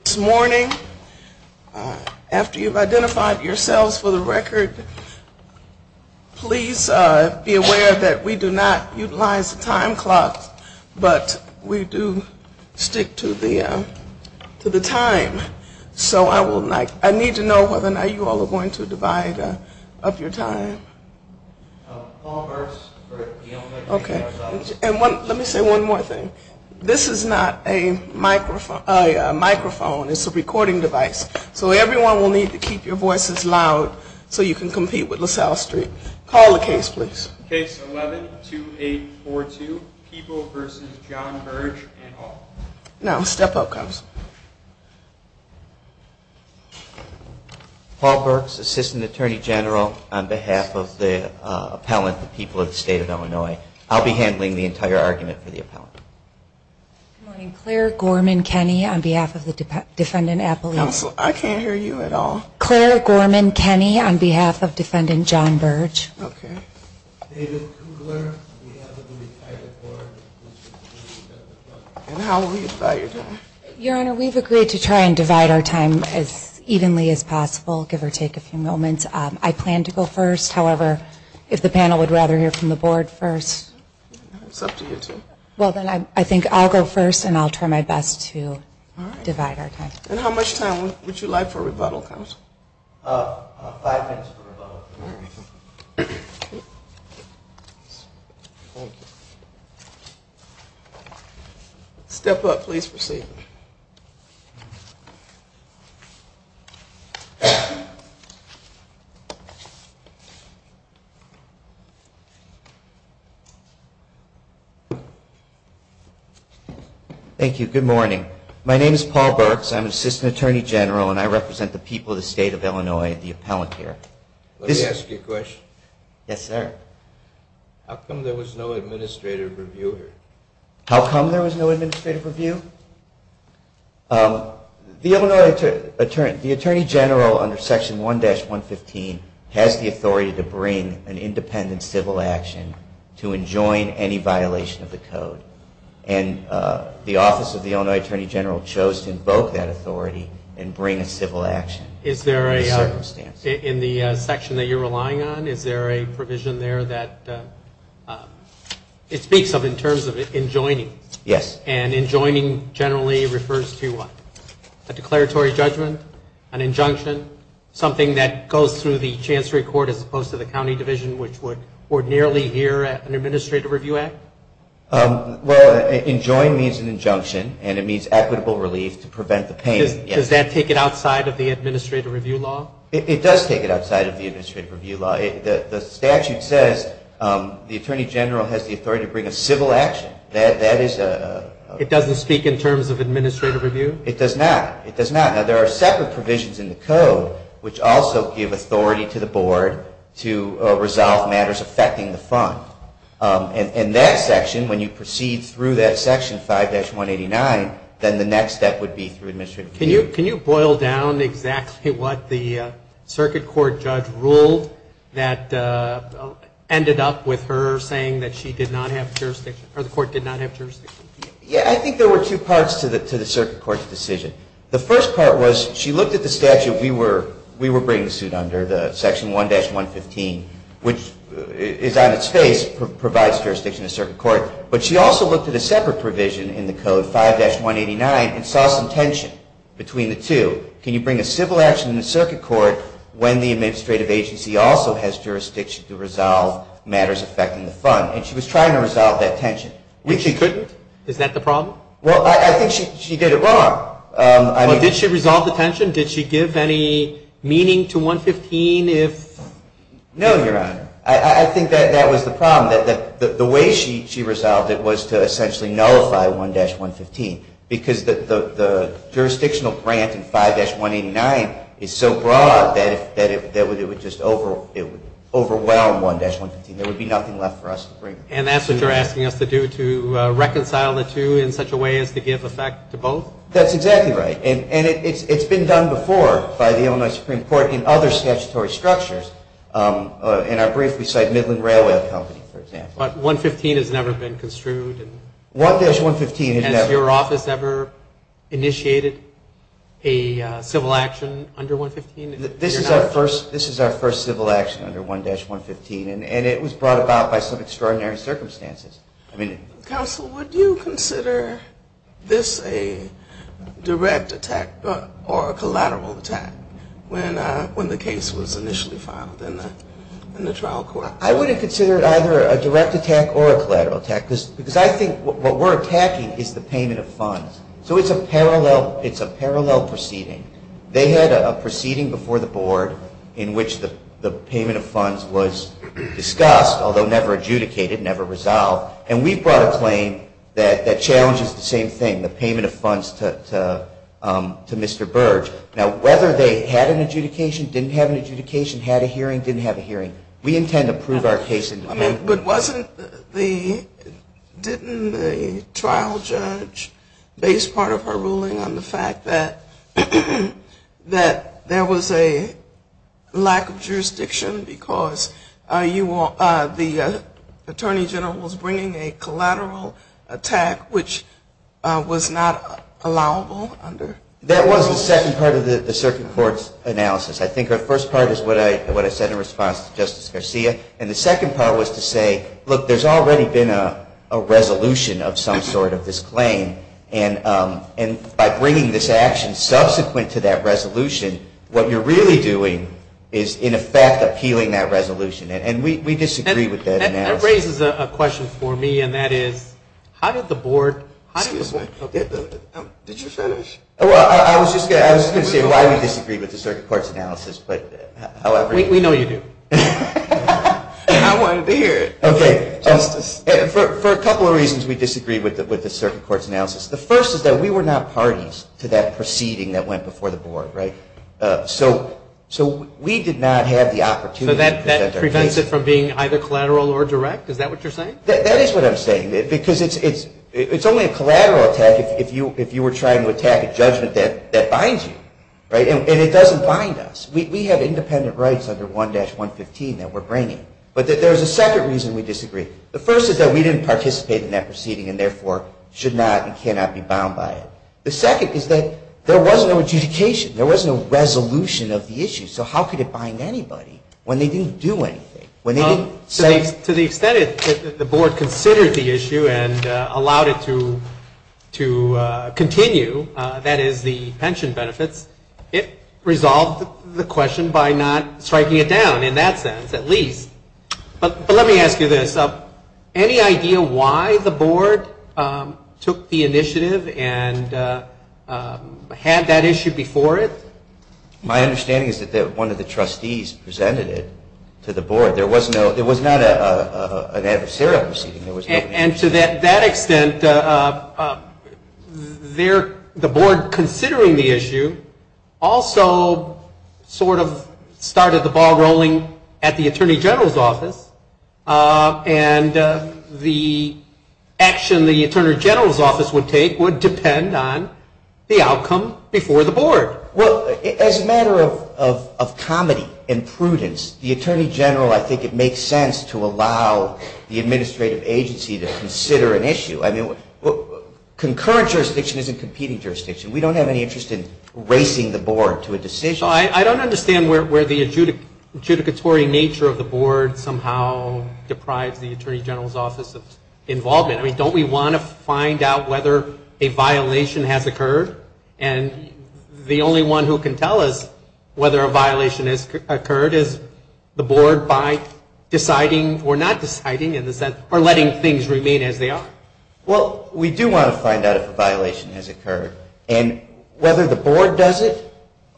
This morning, after you've identified yourselves for the record, please be aware that we do not utilize the time clock, but we do stick to the time. So I need to know whether or not you all are going to divide up your time. Okay. And let me say one more thing. This is not a microphone. It's a recording device. So everyone will need to keep your voices loud so you can compete with LaSalle Street. Call the case, please. Case 11-2842, People v. John Burge and all. Now step up, Counsel. Paul Burks, Assistant Attorney General on behalf of the appellant, the people of the State of Illinois. I'll be handling the entire argument for the appellant. Good morning. Claire Gorman Kenney on behalf of the Defendant Appellate. Counsel, I can't hear you at all. Claire Gorman Kenney on behalf of Defendant John Burge. Okay. David Kugler on behalf of the retired board. Your Honor, we've agreed to try and divide our time as evenly as possible, give or take a few moments. I plan to go first. However, if the panel would rather hear from the board first. It's up to you two. Well, then I think I'll go first and I'll try my best to divide our time. And how much time would you like for rebuttal, Counsel? Five minutes for rebuttal. Step up, please proceed. Thank you. Good morning. My name is Paul Burks. I'm Assistant Attorney General and I represent the people of the State of Illinois, the appellant here. Let me ask you a question. Yes, sir. How come there was no administrative review here? How come there was no administrative review? The Illinois Attorney General under Section 1-115 has the authority to bring an independent civil action to enjoin any violation of the code. And the Office of the Illinois Attorney General chose to invoke that authority and bring a civil action. In the section that you're relying on, is there a provision there that it speaks of in terms of enjoining? Yes. And enjoining generally refers to what? A declaratory judgment? An injunction? Something that goes through the Chancery Court as opposed to the County Division, which would ordinarily hear an Administrative Review Act? Well, enjoin means an injunction and it means equitable relief to prevent the pain. Does that take it outside of the Administrative Review Law? It does take it outside of the Administrative Review Law. The statute says the Attorney General has the authority to bring a civil action. It doesn't speak in terms of administrative review? It does not. It does not. Now, there are separate provisions in the code which also give authority to the board to resolve matters affecting the fund. And that section, when you proceed through that section, 5-189, then the next step would be through Administrative Review. Can you boil down exactly what the circuit court judge ruled that ended up with her saying that she did not have jurisdiction, or the court did not have jurisdiction? Yeah, I think there were two parts to the circuit court's decision. The first part was she looked at the statute we were bringing suit under, the section 1-115, which is on its face, provides jurisdiction to circuit court. But she also looked at a separate provision in the code, 5-189, and saw some tension between the two. Can you bring a civil action in the circuit court when the administrative agency also has jurisdiction to resolve matters affecting the fund? And she was trying to resolve that tension. Which she couldn't? Is that the problem? Well, I think she did it wrong. Well, did she resolve the tension? Did she give any meaning to 115 if? No, Your Honor. I think that was the problem. The way she resolved it was to essentially nullify 1-115, because the jurisdictional grant in 5-189 is so broad that it would just overwhelm 1-115. There would be nothing left for us to bring. And that's what you're asking us to do, to reconcile the two in such a way as to give effect to both? That's exactly right. And it's been done before by the Illinois Supreme Court in other statutory structures. In our brief, we cite Midland Railway Company, for example. But 115 has never been construed? 1-115 has never been construed. Has your office ever initiated a civil action under 115? This is our first civil action under 1-115. And it was brought about by some extraordinary circumstances. Counsel, would you consider this a direct attack or a collateral attack when the case was initially filed in the trial court? I wouldn't consider it either a direct attack or a collateral attack, because I think what we're attacking is the payment of funds. So it's a parallel proceeding. They had a proceeding before the board in which the payment of funds was discussed, although never adjudicated, never resolved. And we brought a claim that challenges the same thing, the payment of funds to Mr. Burge. Now, whether they had an adjudication, didn't have an adjudication, had a hearing, didn't have a hearing, we intend to prove our case. But didn't the trial judge base part of her ruling on the fact that there was a lack of jurisdiction because the attorney general was bringing a collateral attack, which was not allowable? That was the second part of the circuit court's analysis. I think the first part is what I said in response to Justice Garcia. And the second part was to say, look, there's already been a resolution of some sort of this claim. And by bringing this action subsequent to that resolution, what you're really doing is, in effect, appealing that resolution. And we disagree with that analysis. That raises a question for me, and that is, how did the board – Excuse me. Did you finish? I was just going to say why we disagree with the circuit court's analysis. We know you do. I wanted to hear it, Justice. For a couple of reasons we disagree with the circuit court's analysis. The first is that we were not parties to that proceeding that went before the board, right? So we did not have the opportunity to present our case. So that prevents it from being either collateral or direct? Is that what you're saying? That is what I'm saying. Because it's only a collateral attack if you were trying to attack a judgment that binds you, right? And it doesn't bind us. We have independent rights under 1-115 that we're bringing. But there's a second reason we disagree. The first is that we didn't participate in that proceeding and, therefore, should not and cannot be bound by it. The second is that there was no adjudication. There was no resolution of the issue. So how could it bind anybody when they didn't do anything, when they didn't say – To the extent that the board considered the issue and allowed it to continue, that is, the pension benefits, it resolved the question by not striking it down in that sense, at least. But let me ask you this. Any idea why the board took the initiative and had that issue before it? My understanding is that one of the trustees presented it to the board. There was not an adversarial proceeding. And to that extent, the board, considering the issue, also sort of started the ball rolling at the attorney general's office. And the action the attorney general's office would take would depend on the outcome before the board. Well, as a matter of comedy and prudence, the attorney general, I think it makes sense to allow the administrative agency to consider an issue. I mean, concurrent jurisdiction isn't competing jurisdiction. We don't have any interest in racing the board to a decision. I don't understand where the adjudicatory nature of the board somehow deprives the attorney general's office of involvement. I mean, don't we want to find out whether a violation has occurred? And the only one who can tell us whether a violation has occurred is the board by deciding or not deciding in the sense, or letting things remain as they are. Well, we do want to find out if a violation has occurred. And whether the board does it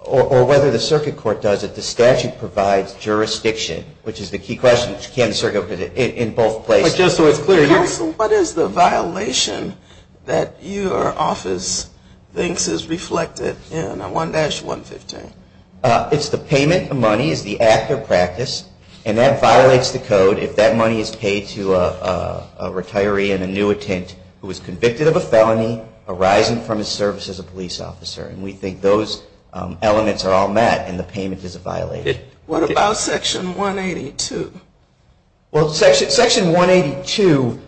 or whether the circuit court does it, the statute provides jurisdiction, which is the key question, which can't be circled in both places. Counsel, what is the violation that your office thinks is reflected in 1-115? It's the payment of money. It's the act of practice. And that violates the code if that money is paid to a retiree, an annuitant who is convicted of a felony arising from his service as a police officer. And we think those elements are all met and the payment is a violation. What about Section 182? Well, Section 182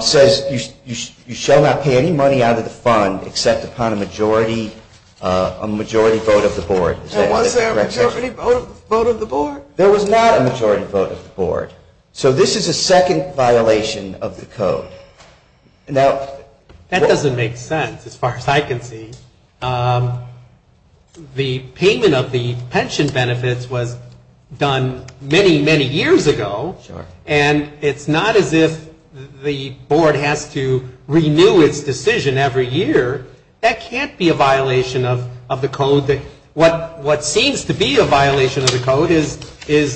says you shall not pay any money out of the fund except upon a majority vote of the board. Was there a majority vote of the board? There was not a majority vote of the board. So this is a second violation of the code. That doesn't make sense as far as I can see. The payment of the pension benefits was done many, many years ago. Sure. And it's not as if the board has to renew its decision every year. That can't be a violation of the code. What seems to be a violation of the code is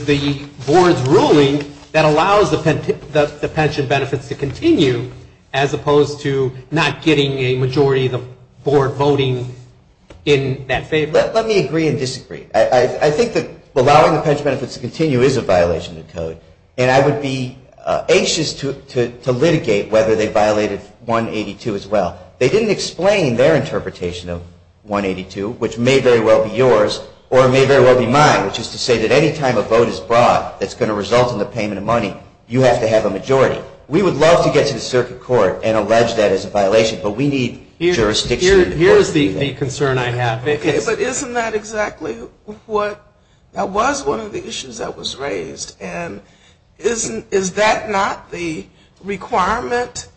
the board's ruling that allows the pension benefits to continue, as opposed to not getting a majority of the board voting in that favor. Let me agree and disagree. I think that allowing the pension benefits to continue is a violation of the code. And I would be anxious to litigate whether they violated 182 as well. They didn't explain their interpretation of 182, which may very well be yours or may very well be mine, which is to say that any time a vote is brought that's going to result in the payment of money, you have to have a majority. We would love to get to the circuit court and allege that as a violation, but we need jurisdiction. Here's the concern I have. Okay, but isn't that exactly what was one of the issues that was raised? And is that not the requirement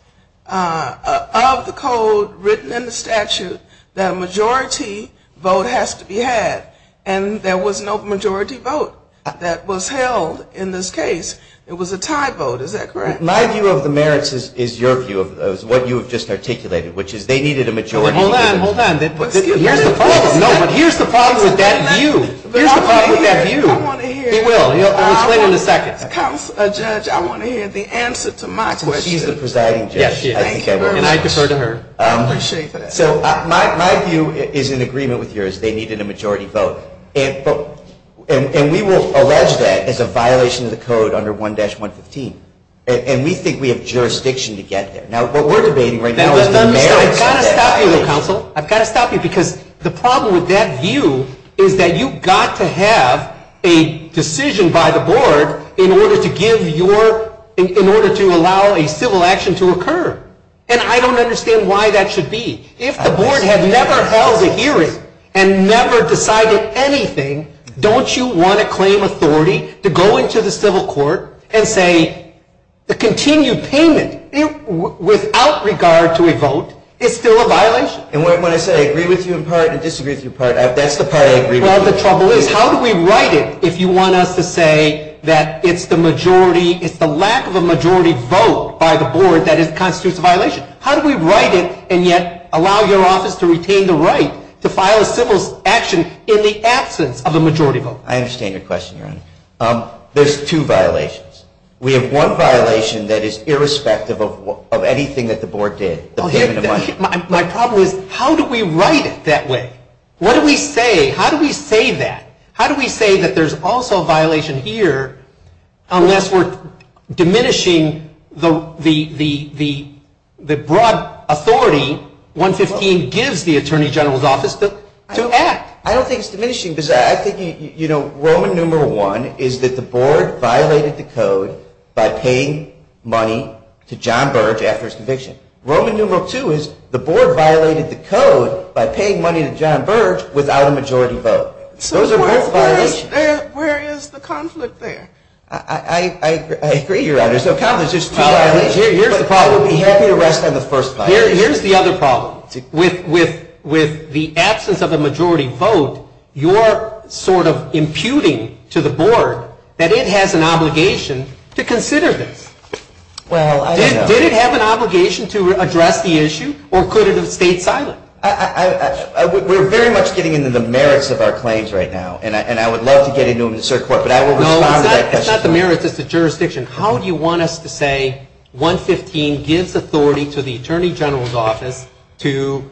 of the code written in the statute that a majority vote has to be had? And there was no majority vote that was held in this case. It was a tie vote. Is that correct? My view of the merits is your view of what you have just articulated, which is they needed a majority vote. Hold on. Here's the problem. No, but here's the problem with that view. Here's the problem with that view. I want to hear. He will. He'll explain in a second. Counselor, Judge, I want to hear the answer to my question. She's the presiding judge. Yes, she is. And I defer to her. I appreciate that. So my view is in agreement with yours. They needed a majority vote. And we will allege that as a violation of the code under 1-115. And we think we have jurisdiction to get there. Now, what we're debating right now is the merits. I've got to stop you, though, counsel. I've got to stop you because the problem with that view is that you've got to have a decision by the board in order to allow a civil action to occur. And I don't understand why that should be. If the board had never held a hearing and never decided anything, don't you want to claim authority to go into the civil court and say the continued payment without regard to a vote is still a violation? And when I say I agree with you in part and disagree with you in part, that's the part I agree with. Well, the trouble is, how do we write it if you want us to say that it's the majority, it's the lack of a majority vote by the board that constitutes a violation? How do we write it and yet allow your office to retain the right to file a civil action in the absence of a majority vote? I understand your question, Your Honor. There's two violations. We have one violation that is irrespective of anything that the board did, the payment of money. My problem is, how do we write it that way? What do we say? How do we say that? How do we say that there's also a violation here unless we're diminishing the broad authority 115 gives the Attorney General's office to act? I don't think it's diminishing because I think, you know, Roman numeral one is that the board violated the code by paying money to John Burge after his conviction. Roman numeral two is the board violated the code by paying money to John Burge without a majority vote. Those are both violations. So where is the conflict there? I agree, Your Honor. There's two violations. Here's the problem. We'll be happy to rest on the first violation. Here's the other problem. With the absence of a majority vote, you're sort of imputing to the board that it has an obligation to consider this. Well, I don't know. Did it have an obligation to address the issue or could it have stayed silent? We're very much getting into the merits of our claims right now, and I would love to get into them in a cert court, but I will respond to that question. No, it's not the merits. It's the jurisdiction. How do you want us to say 115 gives authority to the Attorney General's office to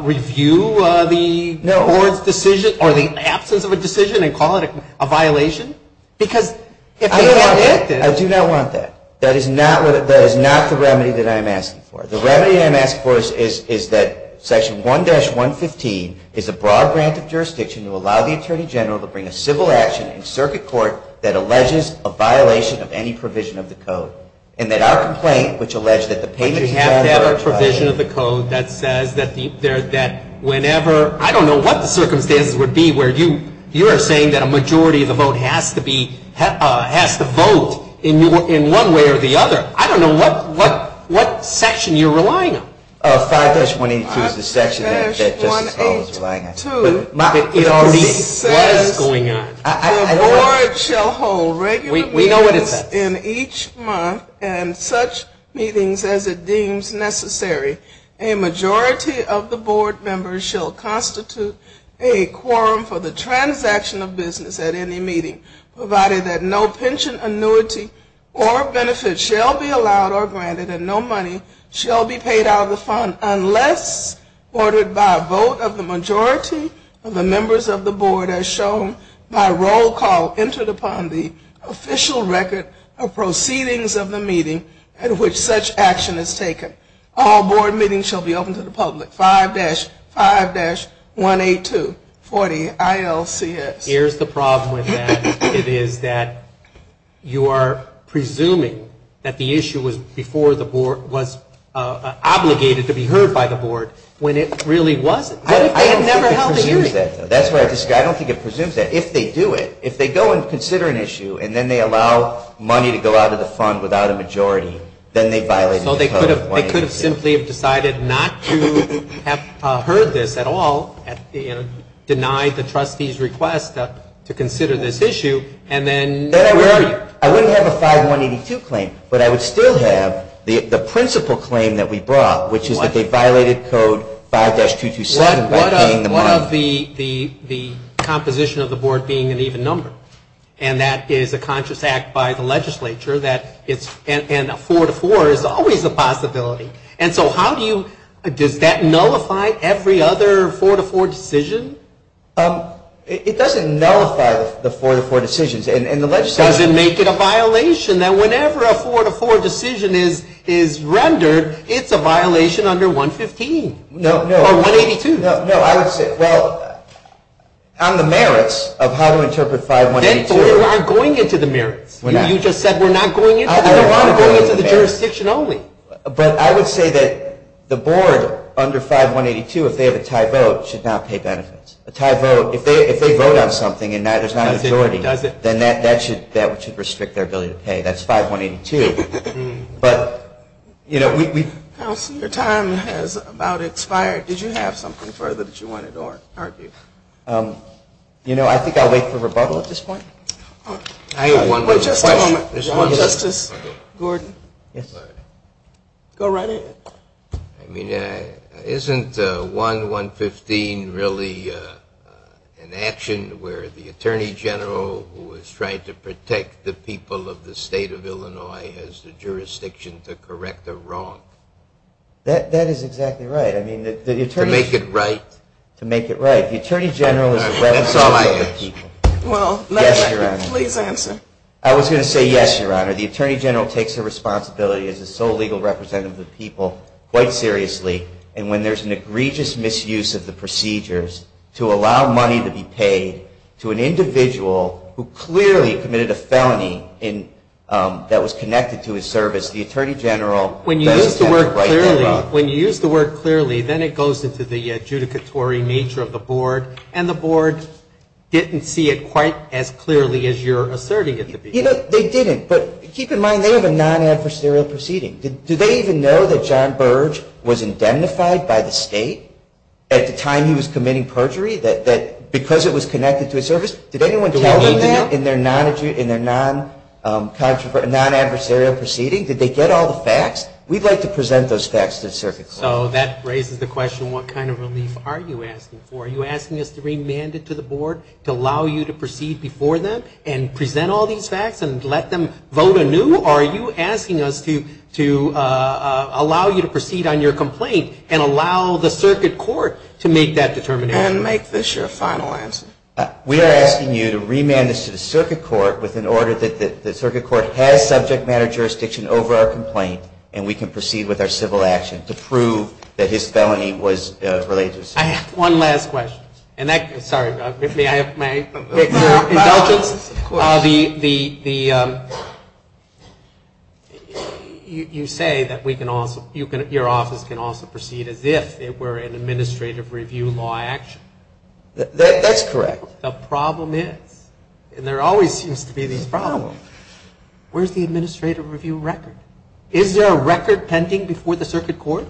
review the board's decision or the absence of a decision and call it a violation? Because if they can't get this. I do not want that. That is not the remedy that I'm asking for. The remedy that I'm asking for is that Section 1-115 is a broad grant of jurisdiction to allow the Attorney General to bring a civil action in circuit court that alleges a violation of any provision of the code. And that our complaint, which alleged that the payment is a violation. But you have to have a provision of the code that says that whenever, I don't know what the circumstances would be where you are saying that a majority of the vote has to vote in one way or the other. I don't know what section you are relying on. 5-182 is the section that Justice Powell is relying on. It already says the board shall hold regular meetings in each month and such meetings as it deems necessary. A majority of the board members shall constitute a quorum for the transaction of business at any meeting, provided that no pension annuity or benefits shall be allowed or granted and no money shall be paid out of the fund unless ordered by a vote of the majority of the members of the board as shown by roll call entered upon the official record of proceedings of the meeting at which such action is taken. All board meetings shall be open to the public. 5-5-182-40 ILCS. Here's the problem with that. It is that you are presuming that the issue was before the board was obligated to be heard by the board when it really wasn't. I don't think it presumes that. If they do it, if they go and consider an issue and then they allow money to go out of the fund without a majority, then they violated the code of 5-5-182. So they could have simply decided not to have heard this at all, denied the trustee's request to consider this issue, and then where are you? I wouldn't have a 5-1-82 claim, but I would still have the principal claim that we brought, which is that they violated code 5-227 by paying the money. What of the composition of the board being an even number? And that is a conscious act by the legislature, and a 4-4 is always a possibility. And so how do you, does that nullify every other 4-4 decision? It doesn't nullify the 4-4 decisions. Does it make it a violation that whenever a 4-4 decision is rendered, it's a violation under 115 or 182? No, I would say, well, on the merits of how to interpret 5-1-82. Then we aren't going into the merits. You just said we're not going into the jurisdiction only. But I would say that the board under 5-1-82, if they have a tie vote, should not pay benefits. A tie vote, if they vote on something and there's not a majority, then that should restrict their ability to pay. That's 5-1-82. Counsel, your time has about expired. Did you have something further that you wanted to argue? You know, I think I'll wait for rebuttal at this point. I have one more question. Just a moment, Justice Gordon. Go right ahead. I mean, isn't 1-1-15 really an action where the attorney general who is trying to protect the people of the state of Illinois has the jurisdiction to correct a wrong? That is exactly right. To make it right? To make it right. The attorney general is the representative of the people. Well, please answer. I was going to say yes, Your Honor. The attorney general takes the responsibility as the sole legal representative of the people quite seriously. And when there's an egregious misuse of the procedures to allow money to be paid to an individual who clearly committed a felony that was connected to his service, the attorney general doesn't have the right to do that. When you use the word clearly, then it goes into the adjudicatory nature of the board. And the board didn't see it quite as clearly as you're asserting it to be. You know, they didn't. But keep in mind, they have a non-adversarial proceeding. Do they even know that John Burge was indemnified by the state at the time he was committing perjury? That because it was connected to his service, did anyone tell them that in their non-adversarial proceeding? Did they get all the facts? We'd like to present those facts to the circuit court. So that raises the question, what kind of relief are you asking for? Are you asking us to remand it to the board to allow you to proceed before them and present all these facts and let them vote anew? Or are you asking us to allow you to proceed on your complaint and allow the circuit court to make that determination? And make this your final answer. We are asking you to remand this to the circuit court with an order that the circuit court has subject matter jurisdiction over our complaint, and we can proceed with our civil action to prove that his felony was religious. I have one last question. Sorry, may I have my indulgence? Of course. You say that your office can also proceed as if it were an administrative review law action. That's correct. The problem is, and there always seems to be this problem, where's the administrative review record? Is there a record pending before the circuit court?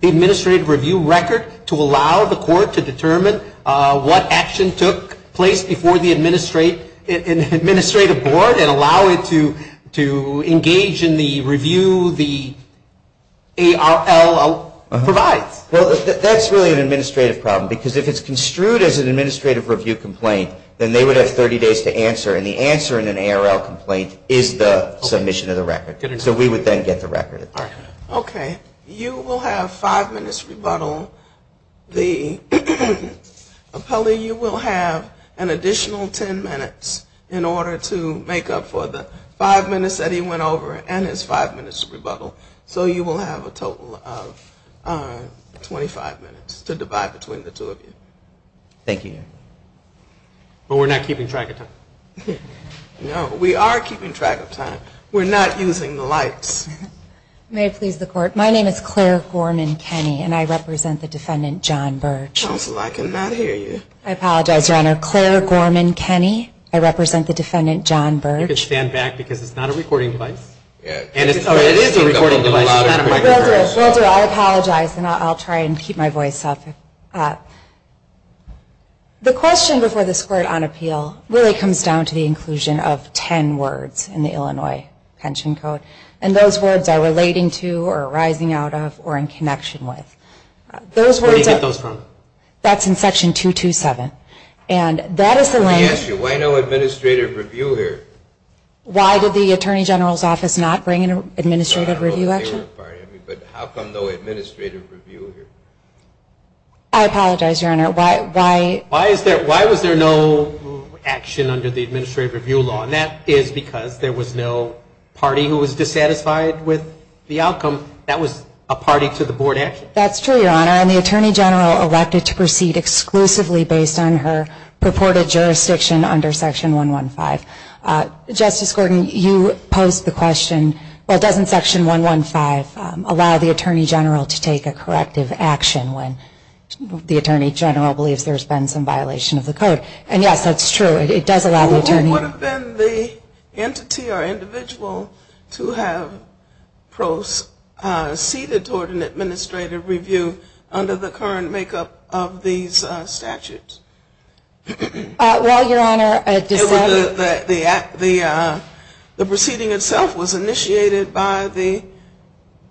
The administrative review record to allow the court to determine what action took place before the administrative board and allow it to engage in the review the ARL provides. Well, that's really an administrative problem, because if it's construed as an administrative review complaint, then they would have 30 days to answer, and the answer in an ARL complaint is the submission of the record. So we would then get the record. Okay. You will have five minutes rebuttal. The appellee, you will have an additional ten minutes in order to make up for the five minutes that he went over and his five minutes rebuttal. So you will have a total of 25 minutes to divide between the two of you. Thank you. But we're not keeping track of time. No, we are keeping track of time. We're not using the lights. May it please the court. My name is Claire Gorman-Kenney, and I represent the defendant, John Birch. Counsel, I cannot hear you. I apologize, Your Honor. Claire Gorman-Kenney. I represent the defendant, John Birch. You can stand back, because it's not a recording device. It is a recording device. Well, I apologize, and I'll try and keep my voice up. Okay. The question before this court on appeal really comes down to the inclusion of ten words in the Illinois Pension Code, and those words are relating to, or arising out of, or in connection with. Where do you get those from? That's in Section 227, and that is the language. Let me ask you, why no administrative review here? Why did the Attorney General's Office not bring an administrative review action? But how come no administrative review here? I apologize, Your Honor. Why was there no action under the administrative review law? And that is because there was no party who was dissatisfied with the outcome. That was a party to the board action. That's true, Your Honor, and the Attorney General elected to proceed exclusively based on her purported jurisdiction under Section 115. Justice Gordon, you posed the question, well, doesn't Section 115 allow the Attorney General to take a corrective action when the Attorney General believes there's been some violation of the code? And, yes, that's true. It does allow the Attorney General. Well, who would have been the entity or individual to have proceeded toward an administrative review under the current makeup of these statutes? Well, Your Honor, the proceeding itself was initiated by the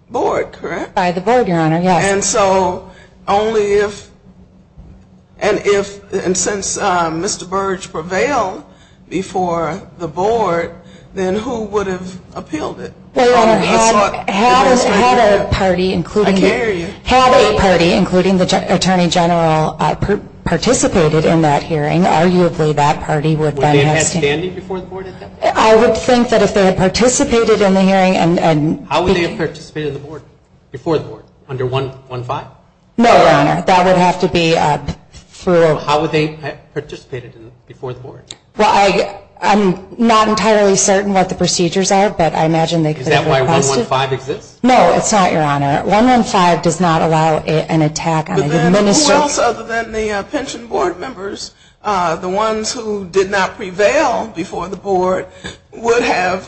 board, correct? By the board, Your Honor, yes. And so only if, and since Mr. Burge prevailed before the board, then who would have appealed it? Well, Your Honor, had a party, including the Attorney General, participated in that hearing, arguably that party would then have. Would they have had standing before the board? I would think that if they had participated in the hearing and... How would they have participated in the board before the board under 115? No, Your Honor, that would have to be... How would they have participated before the board? Well, I'm not entirely certain what the procedures are, but I imagine they could have... Is that why 115 exists? No, it's not, Your Honor. 115 does not allow an attack on an administrative... Then who else other than the pension board members, the ones who did not prevail before the board, would have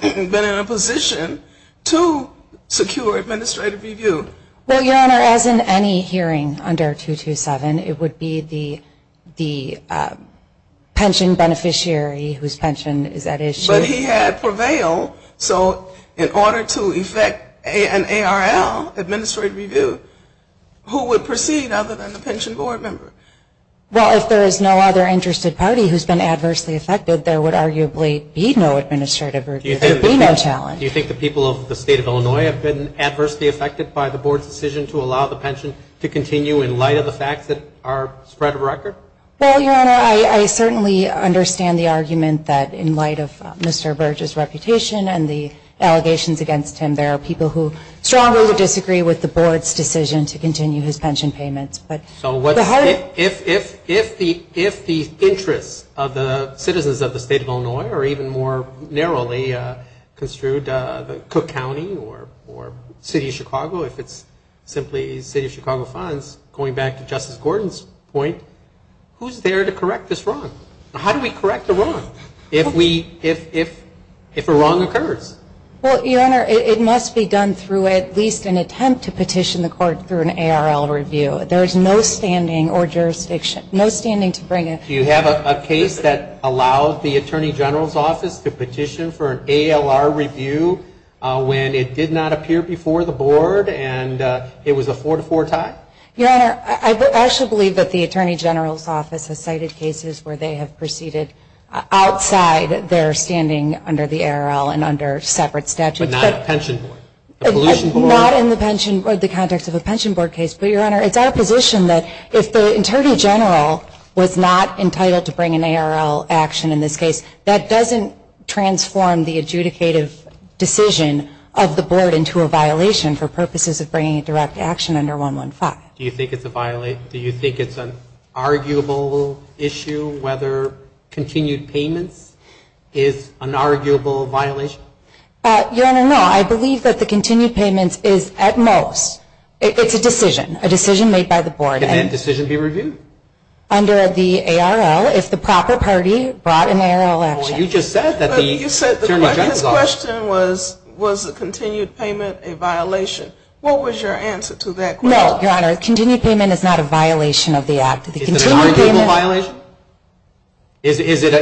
been in a position to secure administrative review? Well, Your Honor, as in any hearing under 227, it would be the pension beneficiary whose pension is at issue. But he had prevailed, so in order to effect an ARL, administrative review, who would proceed other than the pension board member? Well, if there is no other interested party who has been adversely affected, there would arguably be no administrative review. There would be no challenge. Do you think the people of the State of Illinois have been adversely affected by the board's decision to allow the pension to continue in light of the facts that are spread of record? Well, Your Honor, I certainly understand the argument that in light of Mr. Burge's reputation and the allegations against him, there are people who strongly disagree with the board's decision to continue his pension payments. So if the interests of the citizens of the State of Illinois are even more narrowly construed, the Cook County or City of Chicago, if it's simply City of Chicago funds, going back to Justice Gordon's point, who's there to correct this wrong? How do we correct a wrong if a wrong occurs? Well, Your Honor, it must be done through at least an attempt to petition the court through an ARL review. There is no standing or jurisdiction, no standing to bring it. Do you have a case that allowed the Attorney General's Office to petition for an ALR review when it did not appear before the board and it was a 4-4 tie? Your Honor, I actually believe that the Attorney General's Office has cited cases where they have proceeded outside their standing under the ARL and under separate statutes. But not a pension board? Not in the context of a pension board case. But, Your Honor, it's our position that if the Attorney General was not entitled to bring an ARL action in this case, that doesn't transform the adjudicative decision of the board into a violation for purposes of bringing a direct action under 115. Do you think it's an arguable issue whether continued payments is an arguable violation? Your Honor, no. I believe that the continued payments is, at most, it's a decision, a decision made by the board. Can that decision be reviewed? Under the ARL, if the proper party brought an ARL action. Well, you just said that the Attorney General's Office. You said the question was, was the continued payment a violation. What was your answer to that question? No, Your Honor. Continued payment is not a violation of the act. Is it an arguable violation? Is it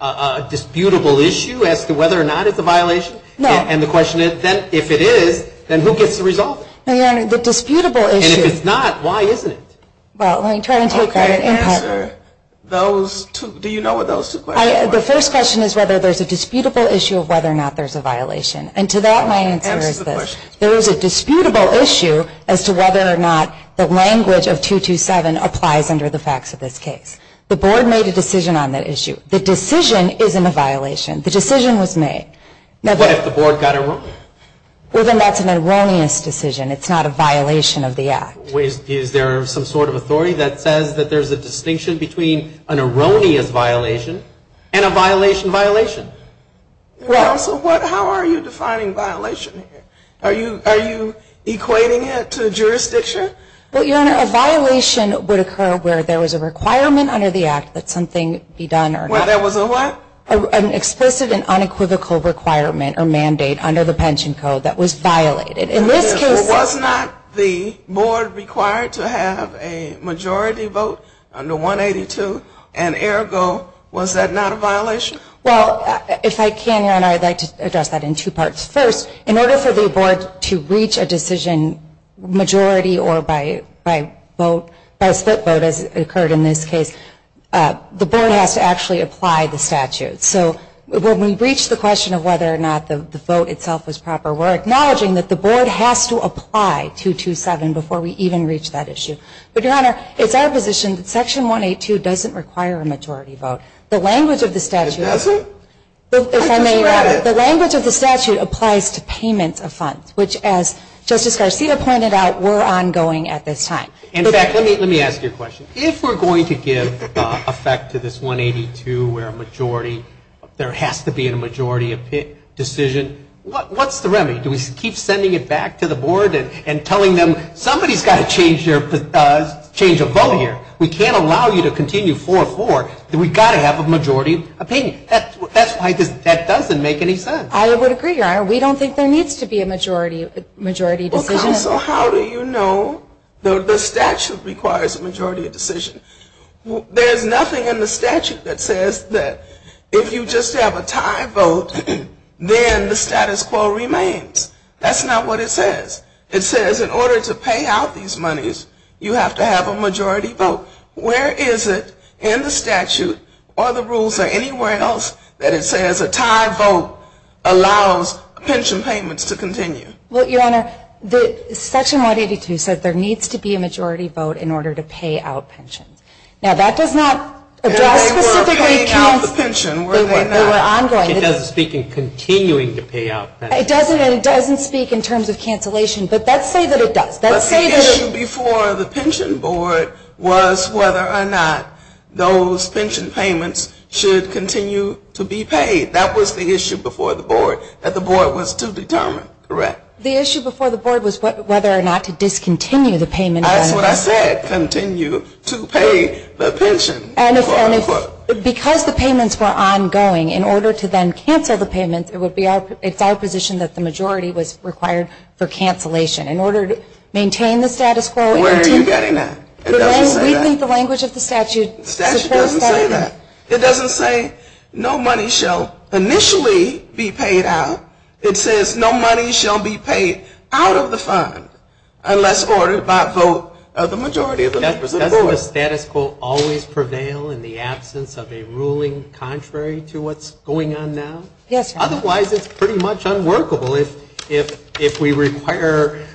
a disputable issue as to whether or not it's a violation? No. And the question is, if it is, then who gets to resolve it? No, Your Honor, the disputable issue. And if it's not, why isn't it? Well, let me try and take that in part. I can't answer those two. Do you know what those two questions are? The first question is whether there's a disputable issue of whether or not there's a violation. And to that, my answer is this. Answer the question. The board made a decision on that issue. The decision isn't a violation. The decision was made. What if the board got erroneous? Well, then that's an erroneous decision. It's not a violation of the act. Is there some sort of authority that says that there's a distinction between an erroneous violation and a violation violation? Counsel, how are you defining violation here? Are you equating it to jurisdiction? Well, Your Honor, a violation would occur where there was a requirement under the act that something be done or not. Well, there was a what? An explicit and unequivocal requirement or mandate under the pension code that was violated. In this case, it was not the board required to have a majority vote under 182. And ergo, was that not a violation? Well, if I can, Your Honor, I'd like to address that in two parts. First, in order for the board to reach a decision majority or by vote, by split vote as occurred in this case, the board has to actually apply the statute. So when we reach the question of whether or not the vote itself was proper, we're acknowledging that the board has to apply 227 before we even reach that issue. But, Your Honor, it's our position that Section 182 doesn't require a majority vote. The language of the statute doesn't. It doesn't? The language of the statute applies to payments of funds, which, as Justice Garcia pointed out, were ongoing at this time. In fact, let me ask you a question. If we're going to give effect to this 182 where a majority, there has to be a majority decision, what's the remedy? Do we keep sending it back to the board and telling them somebody's got to change a vote here? We can't allow you to continue 4-4. We've got to have a majority opinion. That's why that doesn't make any sense. I would agree, Your Honor. We don't think there needs to be a majority decision. Counsel, how do you know the statute requires a majority decision? There's nothing in the statute that says that if you just have a tie vote, then the status quo remains. That's not what it says. It says in order to pay out these monies, you have to have a majority vote. Where is it in the statute or the rules or anywhere else that it says a tie vote allows pension payments to continue? Well, Your Honor, Section 182 says there needs to be a majority vote in order to pay out pensions. Now, that does not address specifically the case where they were ongoing. It doesn't speak in continuing to pay out pensions. It doesn't, and it doesn't speak in terms of cancellation, but let's say that it does. But the issue before the pension board was whether or not those pension payments should continue to be paid. That was the issue before the board that the board was to determine, correct? The issue before the board was whether or not to discontinue the payment. That's what I said, continue to pay the pension. Because the payments were ongoing, in order to then cancel the payments, it's our position that the majority was required for cancellation. In order to maintain the status quo. Where are you getting that? It doesn't say that. We think the language of the statute supports that. The statute doesn't say that. It doesn't say no money shall initially be paid out. It says no money shall be paid out of the fund unless ordered by a vote of the majority of the members of the board. Doesn't the status quo always prevail in the absence of a ruling contrary to what's going on now? Yes, Your Honor. Otherwise it's pretty much unworkable if we require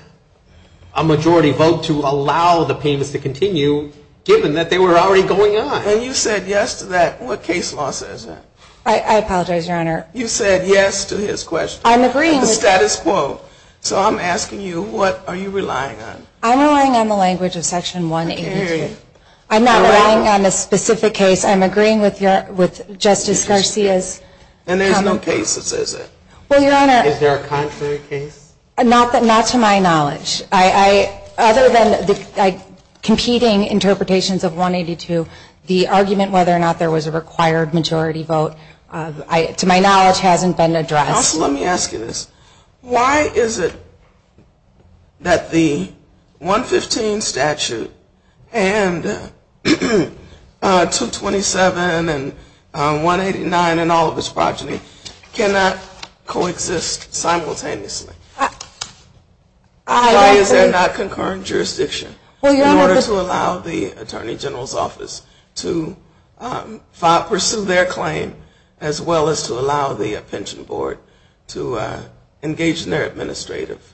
a majority vote to allow the payments to continue, given that they were already going on. And you said yes to that. What case law says that? I apologize, Your Honor. You said yes to his question. I'm agreeing with that. The status quo. So I'm asking you, what are you relying on? I'm relying on the language of Section 182. I'm not relying on a specific case. I'm agreeing with Justice Garcia's comment. And there's no case that says that? Well, Your Honor. Is there a contrary case? Not to my knowledge. Other than the competing interpretations of 182, the argument whether or not there was a required majority vote, to my knowledge, hasn't been addressed. Counsel, let me ask you this. Why is it that the 115 statute and 227 and 189 and all of its progeny cannot coexist simultaneously? Why is there not concurrent jurisdiction in order to allow the Attorney General's Office to pursue their claim as well as to allow the Pension Board to engage in their administrative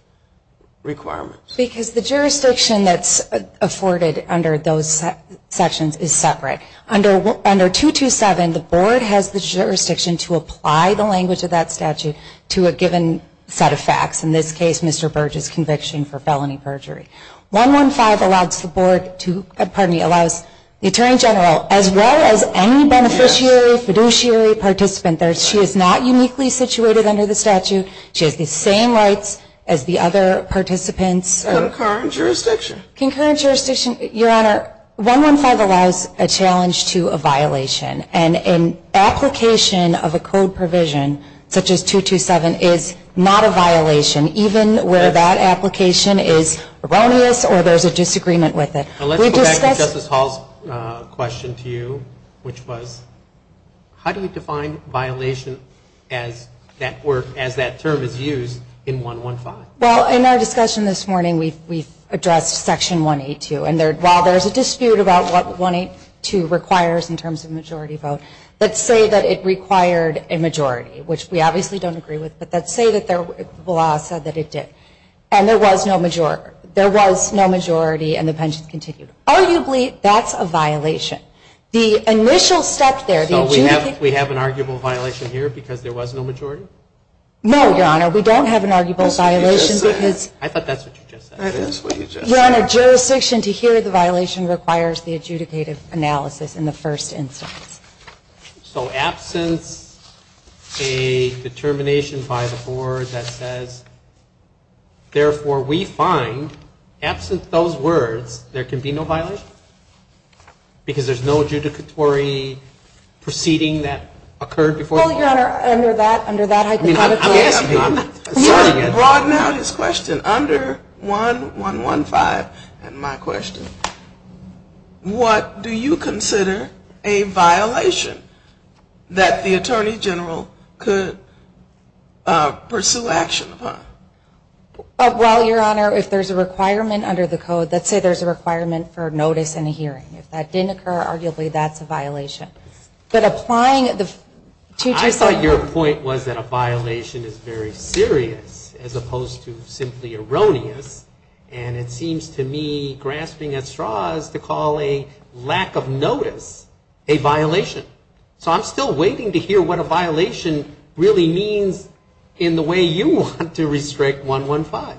requirements? Because the jurisdiction that's afforded under those sections is separate. Under 227, the Board has the jurisdiction to apply the language of that statute to a given set of facts. In this case, Mr. Burge's conviction for felony perjury. 115 allows the Attorney General as well as any beneficiary, fiduciary participant. She is not uniquely situated under the statute. She has the same rights as the other participants. Concurrent jurisdiction? Concurrent jurisdiction, Your Honor. 115 allows a challenge to a violation. And an application of a code provision such as 227 is not a violation, even where that application is erroneous or there's a disagreement with it. Let's go back to Justice Hall's question to you, which was, how do we define violation as that term is used in 115? Well, in our discussion this morning, we've addressed Section 182. And while there's a dispute about what 182 requires in terms of majority vote, let's say that it required a majority, which we obviously don't agree with. But let's say that the law said that it did. And there was no majority and the pension continued. Arguably, that's a violation. The initial step there, the adjudication... No, Your Honor. We don't have an arguable violation because... That's what you just said. I thought that's what you just said. That is what you just said. Your Honor, jurisdiction to hear the violation requires the adjudicative analysis in the first instance. So absence a determination by the board that says, therefore, we find, absent those words, there can be no violation? Because there's no adjudicatory proceeding that occurred before... Well, Your Honor, under that hypothetical... Broaden out his question. Under 1115 and my question, what do you consider a violation that the Attorney General could pursue action upon? Well, Your Honor, if there's a requirement under the code, let's say there's a requirement for notice and a hearing. If that didn't occur, arguably, that's a violation. But applying the... I thought your point was that a violation is very serious as opposed to simply erroneous. And it seems to me, grasping at straws, to call a lack of notice a violation. So I'm still waiting to hear what a violation really means in the way you want to restrict 115.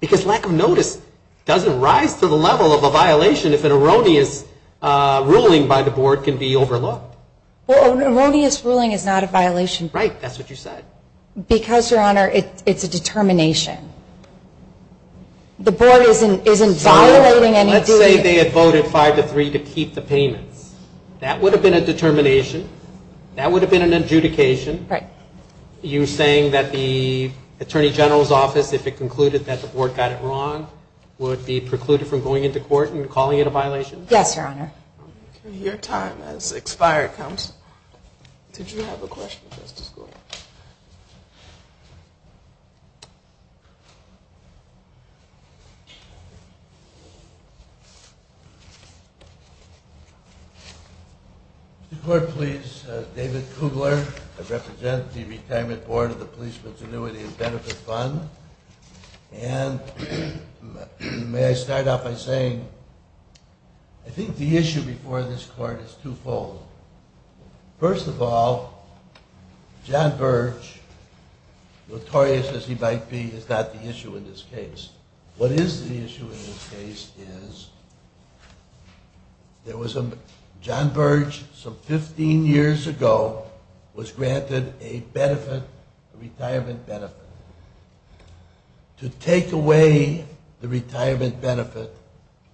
Because lack of notice doesn't rise to the level of a violation if an erroneous ruling by the board can be overlooked. Well, an erroneous ruling is not a violation. Right, that's what you said. Because, Your Honor, it's a determination. The board isn't violating any... So let's say they had voted five to three to keep the payments. That would have been a determination. That would have been an adjudication. Right. You're saying that the Attorney General's Office, if it concluded that the board got it wrong, would be precluded from going into court and calling it a violation? Yes, Your Honor. Your time has expired, Counsel. Did you have a question, Justice Gould? Mr. Court, please. David Kugler. I represent the Retirement Board of the Policeman's Annuity and Benefit Fund. And may I start off by saying I think the issue before this Court is twofold. First of all, John Birch, notorious as he might be, is not the issue in this case. What is the issue in this case is there was a... John Birch, some 15 years ago, was granted a benefit, a retirement benefit. To take away the retirement benefit,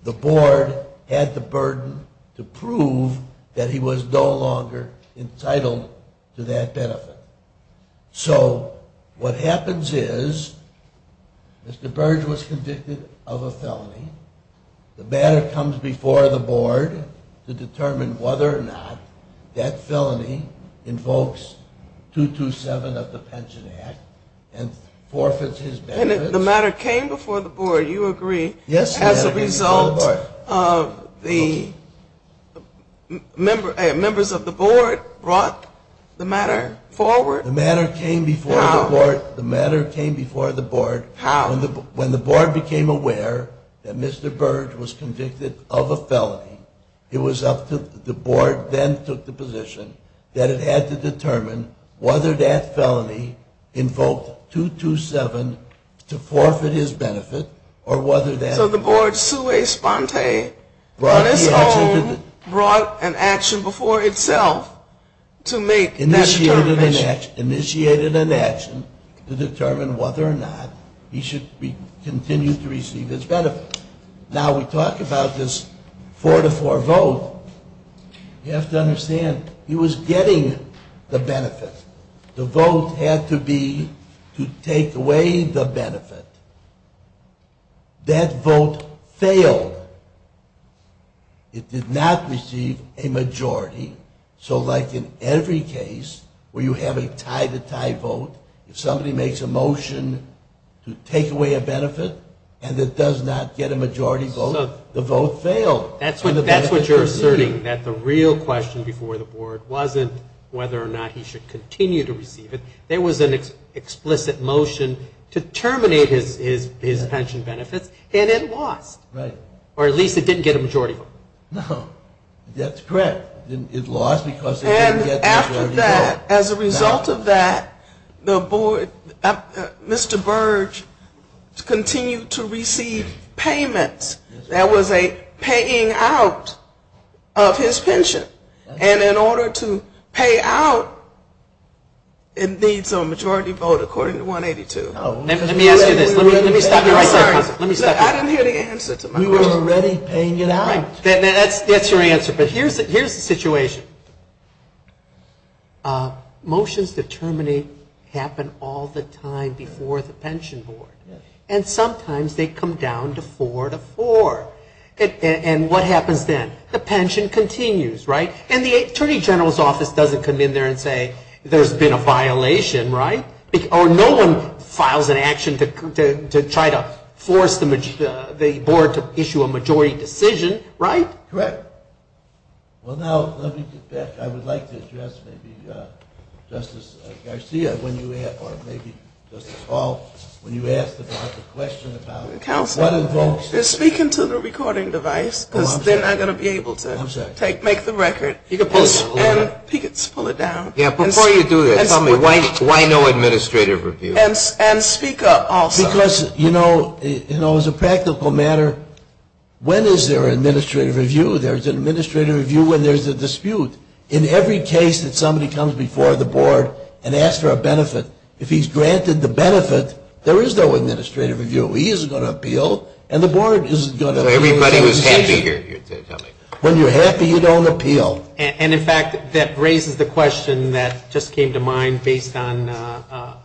the board had the burden to prove that he was no longer entitled to that benefit. So what happens is Mr. Birch was convicted of a felony. The matter comes before the board to determine whether or not that felony invokes 227 of the Pension Act and forfeits his benefits. And the matter came before the board, you agree. Yes, the matter came before the board. As a result, the members of the board brought the matter forward. The matter came before the board. How? The matter came before the board. How? When the board became aware that Mr. Birch was convicted of a felony, it was up to the board then took the position that it had to determine whether that felony invoked 227 to forfeit his benefit or whether that... So the board sui sponte on its own brought an action before itself to make that determination. Initiated an action to determine whether or not he should continue to receive his benefit. Now we talk about this four to four vote. You have to understand he was getting the benefit. The vote had to be to take away the benefit. That vote failed. It did not receive a majority. So like in every case where you have a tie to tie vote, if somebody makes a motion to take away a benefit and it does not get a majority vote, the vote failed. That's what you're asserting, that the real question before the board wasn't whether or not he should continue to receive it. There was an explicit motion to terminate his pension benefits and it lost. Right. Or at least it didn't get a majority vote. No. That's correct. It lost because it didn't get the majority vote. And after that, as a result of that, the board, Mr. Burge continued to receive payments. There was a paying out of his pension. And in order to pay out, it needs a majority vote according to 182. Let me ask you this. Let me stop you right there. I'm sorry. I didn't hear the answer to my question. We were already paying it out. That's your answer. But here's the situation. Motions to terminate happen all the time before the pension board. And sometimes they come down to four to four. And what happens then? The pension continues, right? And the attorney general's office doesn't come in there and say there's been a violation, right? Or no one files an action to try to force the board to issue a majority decision, right? Correct. Well, now, let me get back. I would like to address maybe Justice Garcia or maybe Justice Hall. When you asked about the question about what invokes. Counselor, they're speaking to the recording device because they're not going to be able to make the record. I'm sorry. And he gets to pull it down. Yeah, before you do that, tell me, why no administrative review? And speak up also. Because, you know, as a practical matter, when is there an administrative review? There's an administrative review when there's a dispute. In every case that somebody comes before the board and asks for a benefit, if he's granted the benefit, there is no administrative review. He isn't going to appeal, and the board isn't going to appeal. Everybody was happy here. When you're happy, you don't appeal. And, in fact, that raises the question that just came to mind based on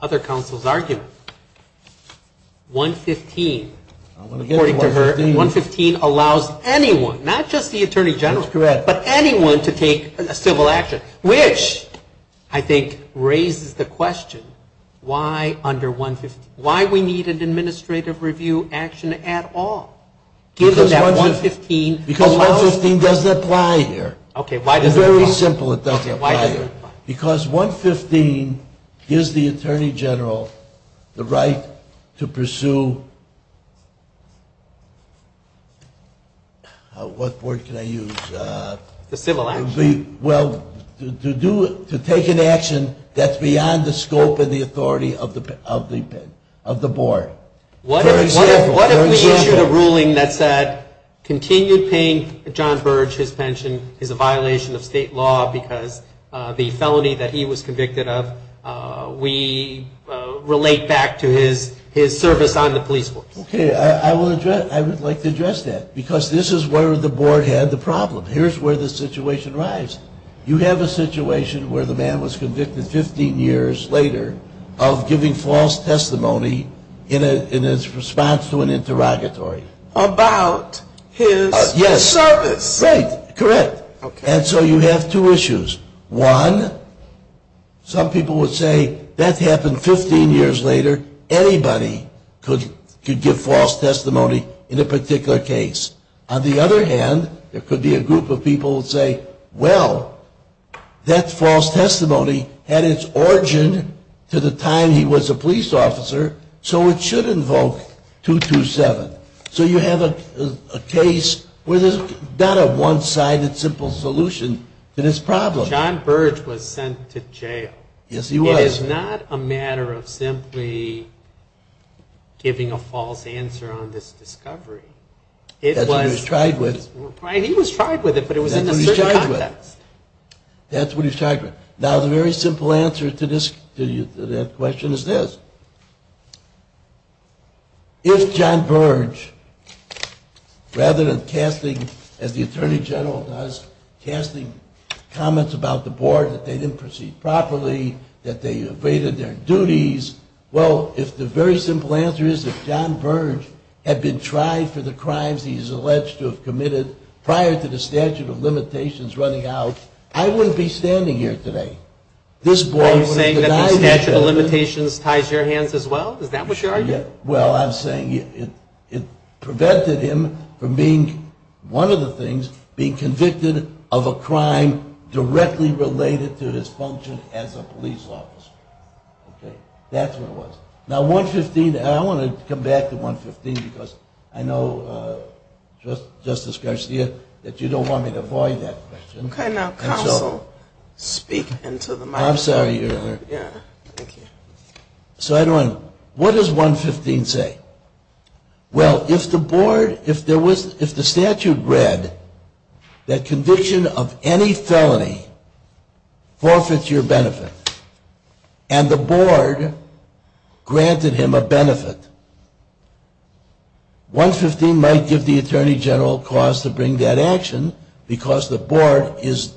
other counsel's argument. 115. According to her, 115 allows anyone, not just the attorney general, but anyone to take a civil action, which I think raises the question, why under 115? Why we need an administrative review action at all? Because 115 doesn't apply here. It's very simple it doesn't apply here. Because 115 gives the attorney general the right to pursue, what word can I use? The civil action. Well, to take an action that's beyond the scope and the authority of the board, for example. What if we issued a ruling that said continued paying John Burge his pension is a violation of state law because the felony that he was convicted of, we relate back to his service on the police force? Okay. I would like to address that because this is where the board had the problem. Here's where the situation arrives. You have a situation where the man was convicted 15 years later of giving false testimony in his response to an interrogatory. About his service. Yes. Right. Correct. And so you have two issues. One, some people would say that happened 15 years later. Anybody could give false testimony in a particular case. On the other hand, there could be a group of people who would say, well, that false testimony had its origin to the time he was a police officer, so it should invoke 227. So you have a case where there's not a one-sided simple solution to this problem. John Burge was sent to jail. Yes, he was. It is not a matter of simply giving a false answer on this discovery. That's what he was tried with. He was tried with it, but it was in a certain context. That's what he was tried with. Now, the very simple answer to that question is this. If John Burge, rather than casting, as the Attorney General does, casting comments about the board that they didn't proceed properly, that they evaded their duties, well, if the very simple answer is that John Burge had been tried for the crimes he's alleged to have committed prior to the statute of limitations running out, I wouldn't be standing here today. Are you saying that the statute of limitations ties your hands as well? Is that what you're arguing? Well, I'm saying it prevented him from being, one of the things, being convicted of a crime directly related to his function as a police officer. That's what it was. Now, 115, and I want to come back to 115 because I know, Justice Garcia, that you don't want me to avoid that question. Okay, now counsel, speak into the microphone. I'm sorry, Your Honor. Yeah, thank you. So, I don't want to, what does 115 say? Well, if the board, if there was, if the statute read that conviction of any felony forfeits your benefit and the board granted him a benefit, 115 might give the attorney general cause to bring that action because the board is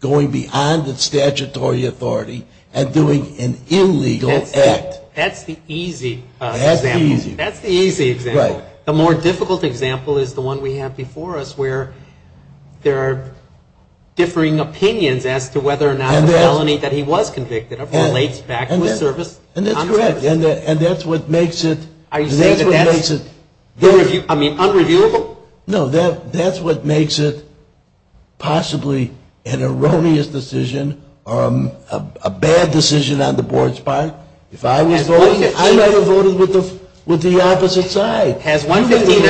going beyond its statutory authority and doing an illegal act. That's the easy example. That's the easy example. Right. The more difficult example is the one we have before us where there are differing opinions as to whether or not the felony that he was convicted of relates back to his service. And that's correct. And that's what makes it. Are you saying that that's, I mean, unreviewable? No, that's what makes it possibly an erroneous decision or a bad decision on the board's part. If I was voting, I might have voted with the opposite side. Has 115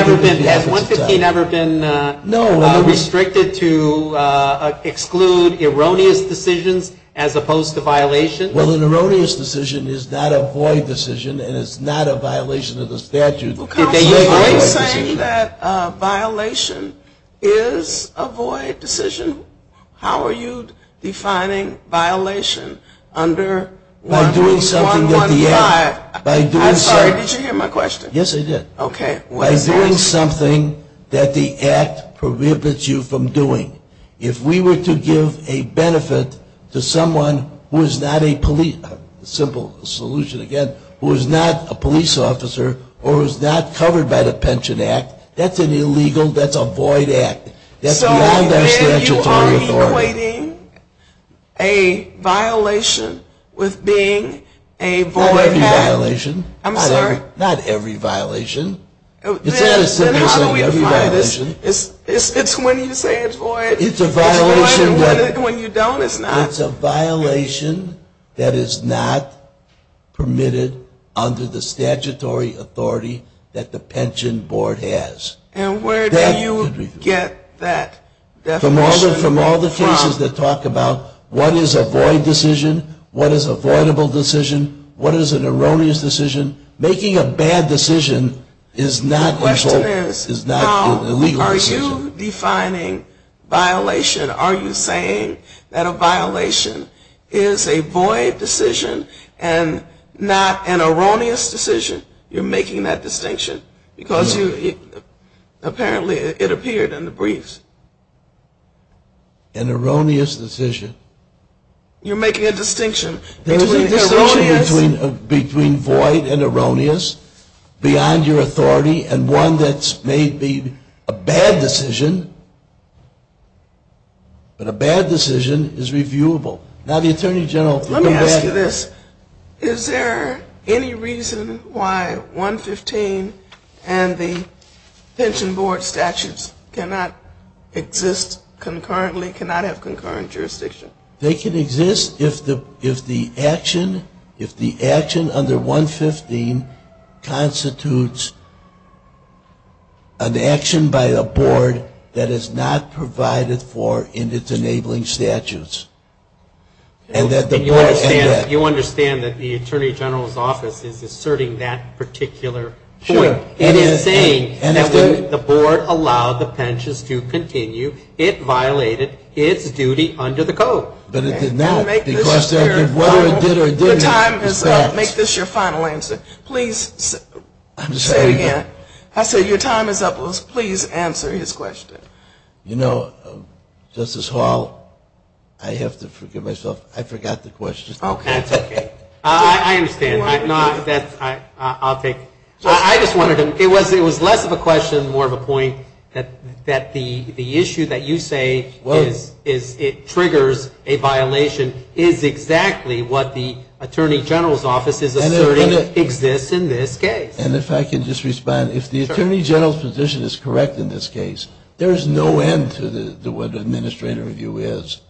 ever been restricted to exclude erroneous decisions as opposed to violations? Well, an erroneous decision is not a void decision and it's not a violation of the statute. Counsel, are you saying that a violation is a void decision? How are you defining violation under 115? I'm sorry, did you hear my question? Yes, I did. Okay. By doing something that the act prohibits you from doing. If we were to give a benefit to someone who is not a police, a simple solution again, who is not a police officer or is not covered by the Pension Act, that's an illegal, that's a void act. Not every violation. I'm sorry? Not every violation. Then how do we define this? It's when you say it's void. It's a violation. When you don't, it's not. It's a violation that is not permitted under the statutory authority that the Pension Board has. And where do you get that definition from? I get it from all the cases that talk about what is a void decision, what is a voidable decision, what is an erroneous decision. Making a bad decision is not a legal decision. The question is how are you defining violation? Are you saying that a violation is a void decision and not an erroneous decision? You're making that distinction because apparently it appeared in the briefs. An erroneous decision. You're making a distinction between erroneous. There is a distinction between void and erroneous, beyond your authority, and one that may be a bad decision. But a bad decision is reviewable. Now the Attorney General. Let me ask you this. Is there any reason why 115 and the Pension Board statutes cannot exist concurrently, cannot have concurrent jurisdiction? They can exist if the action under 115 constitutes an action by a board that is not provided for in its enabling statutes. And you understand that the Attorney General's office is asserting that particular point. It is saying that when the board allowed the pensions to continue, it violated its duty under the code. But it did not. Whether it did or didn't. Make this your final answer. Please say it again. I said your time is up. Please answer his question. You know, Justice Hall, I have to forgive myself. I forgot the question. That's okay. I understand. I'll take it. I just wanted to, it was less of a question, more of a point, that the issue that you say is it triggers a violation is exactly what the Attorney General's office is asserting exists in this case. And if I can just respond. If the Attorney General's position is correct in this case, there is no end to what administrative review is.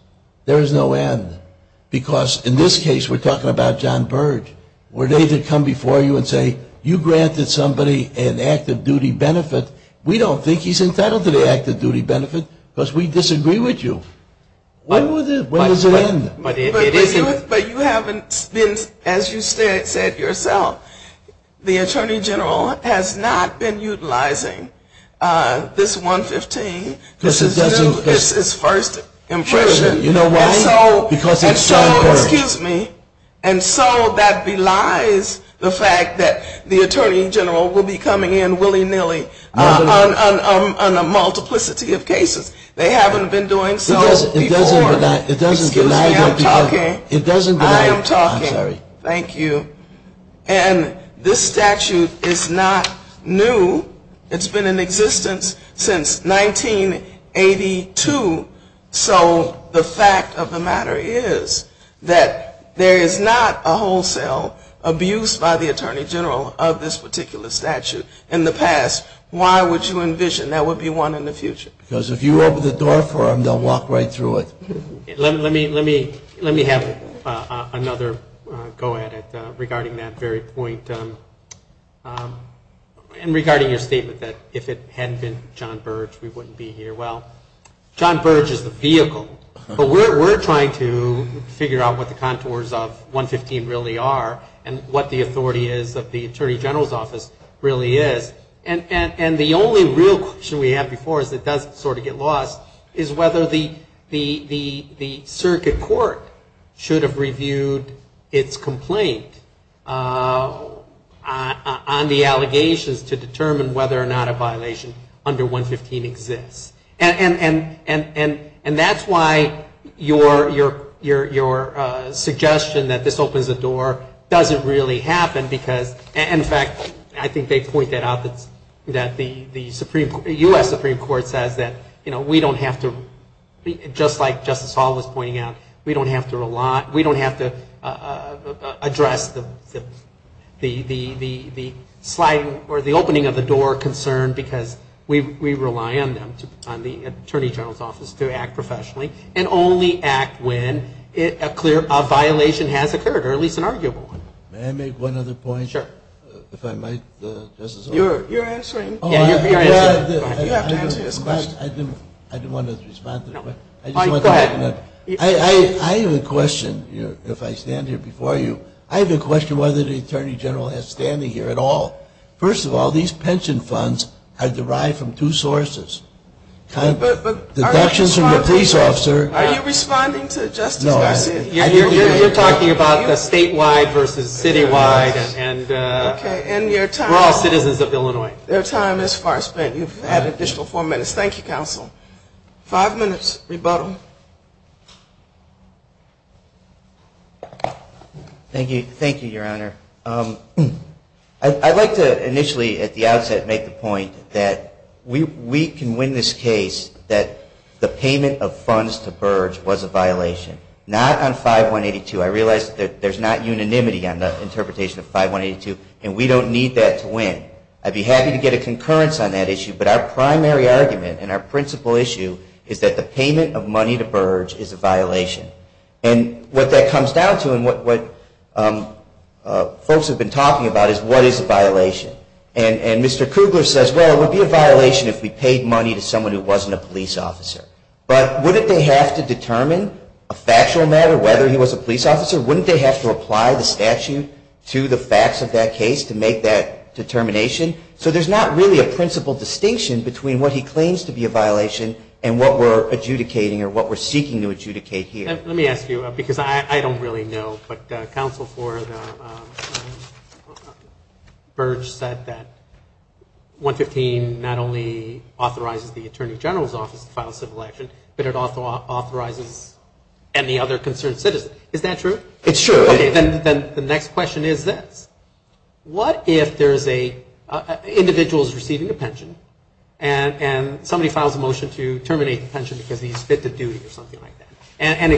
There is no end. Because in this case, we're talking about John Byrd, where they could come before you and say, you granted somebody an active duty benefit. We don't think he's entitled to the active duty benefit because we disagree with you. When does it end? But you haven't been, as you said yourself, the Attorney General has not been utilizing this 115. This is his first impression. You know why? Because it's John Byrd. Excuse me. And so that belies the fact that the Attorney General will be coming in willy-nilly on a multiplicity of cases. They haven't been doing so before. It doesn't bely that. Excuse me, I'm talking. It doesn't bely that. I am talking. I'm sorry. Thank you. And this statute is not new. It's been in existence since 1982. So the fact of the matter is that there is not a wholesale abuse by the Attorney General of this particular statute in the past. Why would you envision there would be one in the future? Because if you open the door for them, they'll walk right through it. Let me have another go at it regarding that very point and regarding your statement that if it hadn't been John Byrd, we wouldn't be here. Well, John Byrd is the vehicle. But we're trying to figure out what the contours of 115 really are and what the authority is of the Attorney General's office really is. And the only real question we have before us that does sort of get lost is whether the circuit court should have reviewed its complaint on the And that's why your suggestion that this opens the door doesn't really happen because, in fact, I think they pointed out that the U.S. Supreme Court says that, you know, we don't have to, just like Justice Hall was pointing out, we don't have to rely, because we rely on them, on the Attorney General's office to act professionally and only act when a clear violation has occurred or at least an arguable one. May I make one other point? Sure. If I might, Justice O'Connor. You're answering. Yeah, you're answering. You have to answer this question. I didn't want to respond to the question. Go ahead. I have a question. If I stand here before you, I have a question whether the Attorney General has standing here at all. First of all, these pension funds are derived from two sources, deductions from your police officer. Are you responding to Justice Garcia? No. You're talking about the statewide versus citywide, and we're all citizens of Illinois. Okay. And your time is far spent. You've had an additional four minutes. Thank you, counsel. Five minutes, rebuttal. Thank you. Thank you, Your Honor. I'd like to initially at the outset make the point that we can win this case that the payment of funds to Burge was a violation. Not on 5182. I realize that there's not unanimity on the interpretation of 5182, and we don't need that to win. I'd be happy to get a concurrence on that issue, but our primary argument and our principal issue is that the payment of money to Burge is a violation. And what that comes down to and what folks have been talking about is what is a violation? And Mr. Kugler says, well, it would be a violation if we paid money to someone who wasn't a police officer. But wouldn't they have to determine a factual matter whether he was a police officer? Wouldn't they have to apply the statute to the facts of that case to make that determination? So there's not really a principal distinction between what he claims to be a violation and what we're adjudicating or what we're seeking to adjudicate here. Let me ask you, because I don't really know, but counsel for Burge said that 115 not only authorizes the Attorney General's office to file a civil action, but it authorizes any other concerned citizen. Is that true? It's true. Okay. Then the next question is this. What if there is a individual who is receiving a pension and somebody files a motion to terminate the pension because he didn't fit the duty or something like that, and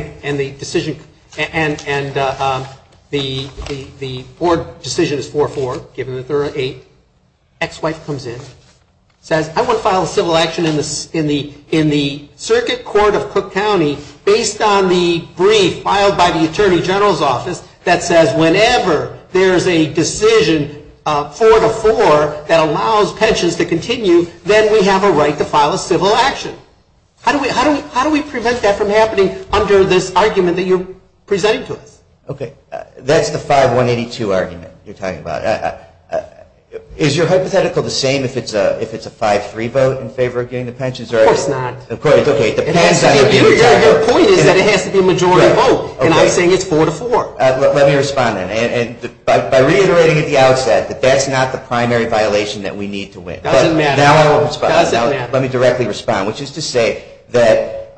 the board decision is 4-4 given that there are eight, ex-wife comes in, says I want to file a civil action in the circuit court of Cook County based on the brief filed by the Attorney General's office that says whenever there's a decision 4-4 that allows pensions to continue, then we have a right to file a civil action. How do we prevent that from happening under this argument that you're presenting to us? Okay. That's the 5-182 argument you're talking about. Is your hypothetical the same if it's a 5-3 vote in favor of getting the pensions? Of course not. Okay. Your point is that it has to be a majority vote, and I'm saying it's 4-4. Let me respond then. By reiterating at the outset that that's not the primary violation that we need to win. Doesn't matter. Let me directly respond, which is to say that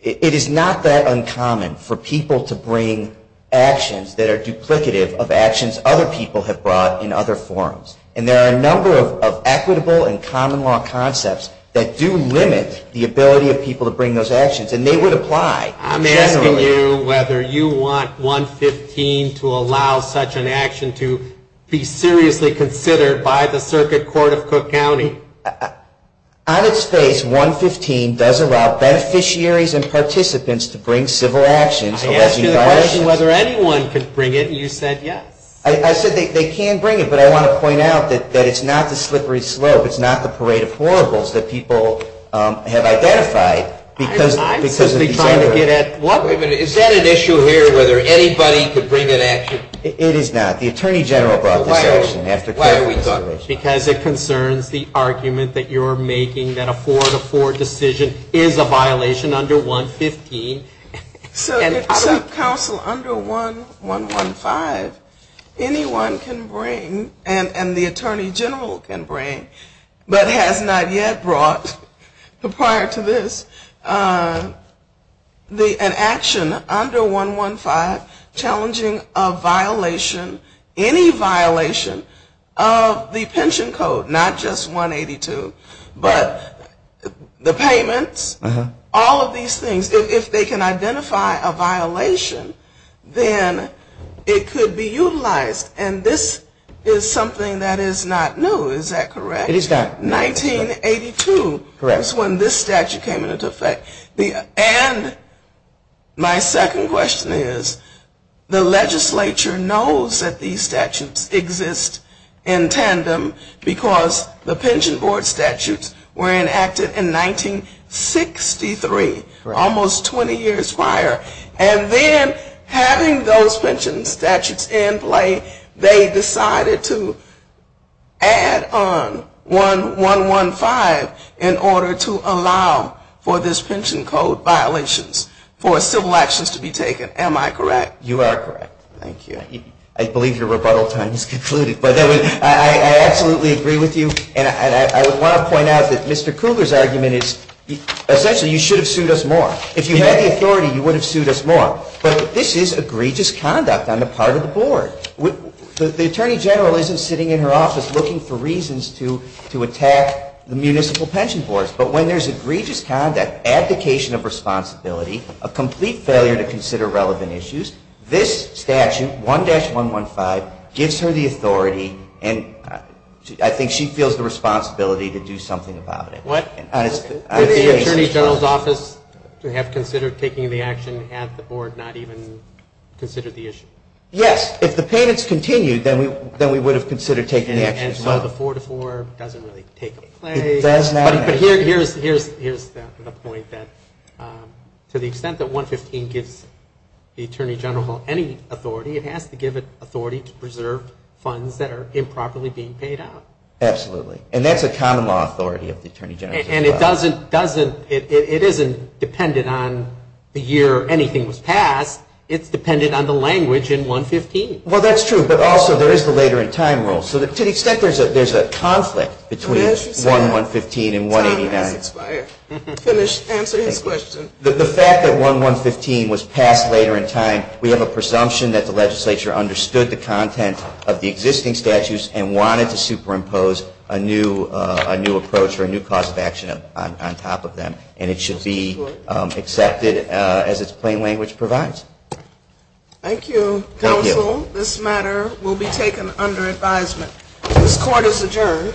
it is not that uncommon for people to bring actions that are duplicative of actions other people have brought in other forms, and there are a number of equitable and common law concepts that do limit the ability of people to bring those actions, and they would apply generally. I'm asking you whether you want 115 to allow such an action to be seriously considered by the Circuit Court of Cook County. On its face, 115 does allow beneficiaries and participants to bring civil actions. I asked you the question whether anyone could bring it, and you said yes. I said they can bring it, but I want to point out that it's not the slippery slope, it's not the parade of horribles that people have brought in. Is that an issue here, whether anybody could bring an action? It is not. The Attorney General brought this action. Because it concerns the argument that you're making that a 4-4 decision is a violation under 115. So counsel, under 115, anyone can bring, and the Attorney General can bring, but has not yet brought prior to this an action that is under 115 challenging a violation, any violation, of the pension code, not just 182, but the payments, all of these things. If they can identify a violation, then it could be utilized, and this is something that is not new, is that correct? It is not. 1982 is when this statute came into effect. And my second question is, the legislature knows that these statutes exist in tandem, because the pension board statutes were enacted in 1963, almost 20 years prior, and then having those pension statutes in play, they decided to add on 115 in order to allow for this pension code violations for civil actions to be taken. Am I correct? You are correct. Thank you. I believe your rebuttal time has concluded. But I absolutely agree with you, and I want to point out that Mr. Cougar's argument is essentially you should have sued us more. If you had the authority, you would have sued us more. But this is egregious conduct on the part of the board. The Attorney General isn't sitting in her office looking for reasons to attack the municipal pension boards. But when there is egregious conduct, abdication of responsibility, a complete failure to consider relevant issues, this statute, 1-115, gives her the authority, and I think she feels the responsibility to do something about it. What? Did the Attorney General's office have considered taking the action at the board, not even consider the issue? Yes. If the payments continued, then we would have considered taking the action as well. And so the 4-4 doesn't really take place. But here's the point. To the extent that 1-115 gives the Attorney General any authority, it has to give it authority to preserve funds that are improperly being paid out. Absolutely. And that's a common law authority of the Attorney General's office. And it doesn't, it isn't dependent on the year anything was passed. It's dependent on the language in 1-115. Well, that's true. But also there is the later in time rule. So to the extent there's a conflict between 1-115 and 189, the fact that 1-115 was passed later in time, we have a presumption that the legislature understood the content of the existing statutes and wanted to superimpose a new approach or a new cause of action on top of them. And it should be accepted as its plain language provides. Thank you, Counsel. This matter will be taken under advisement. This Court is adjourned.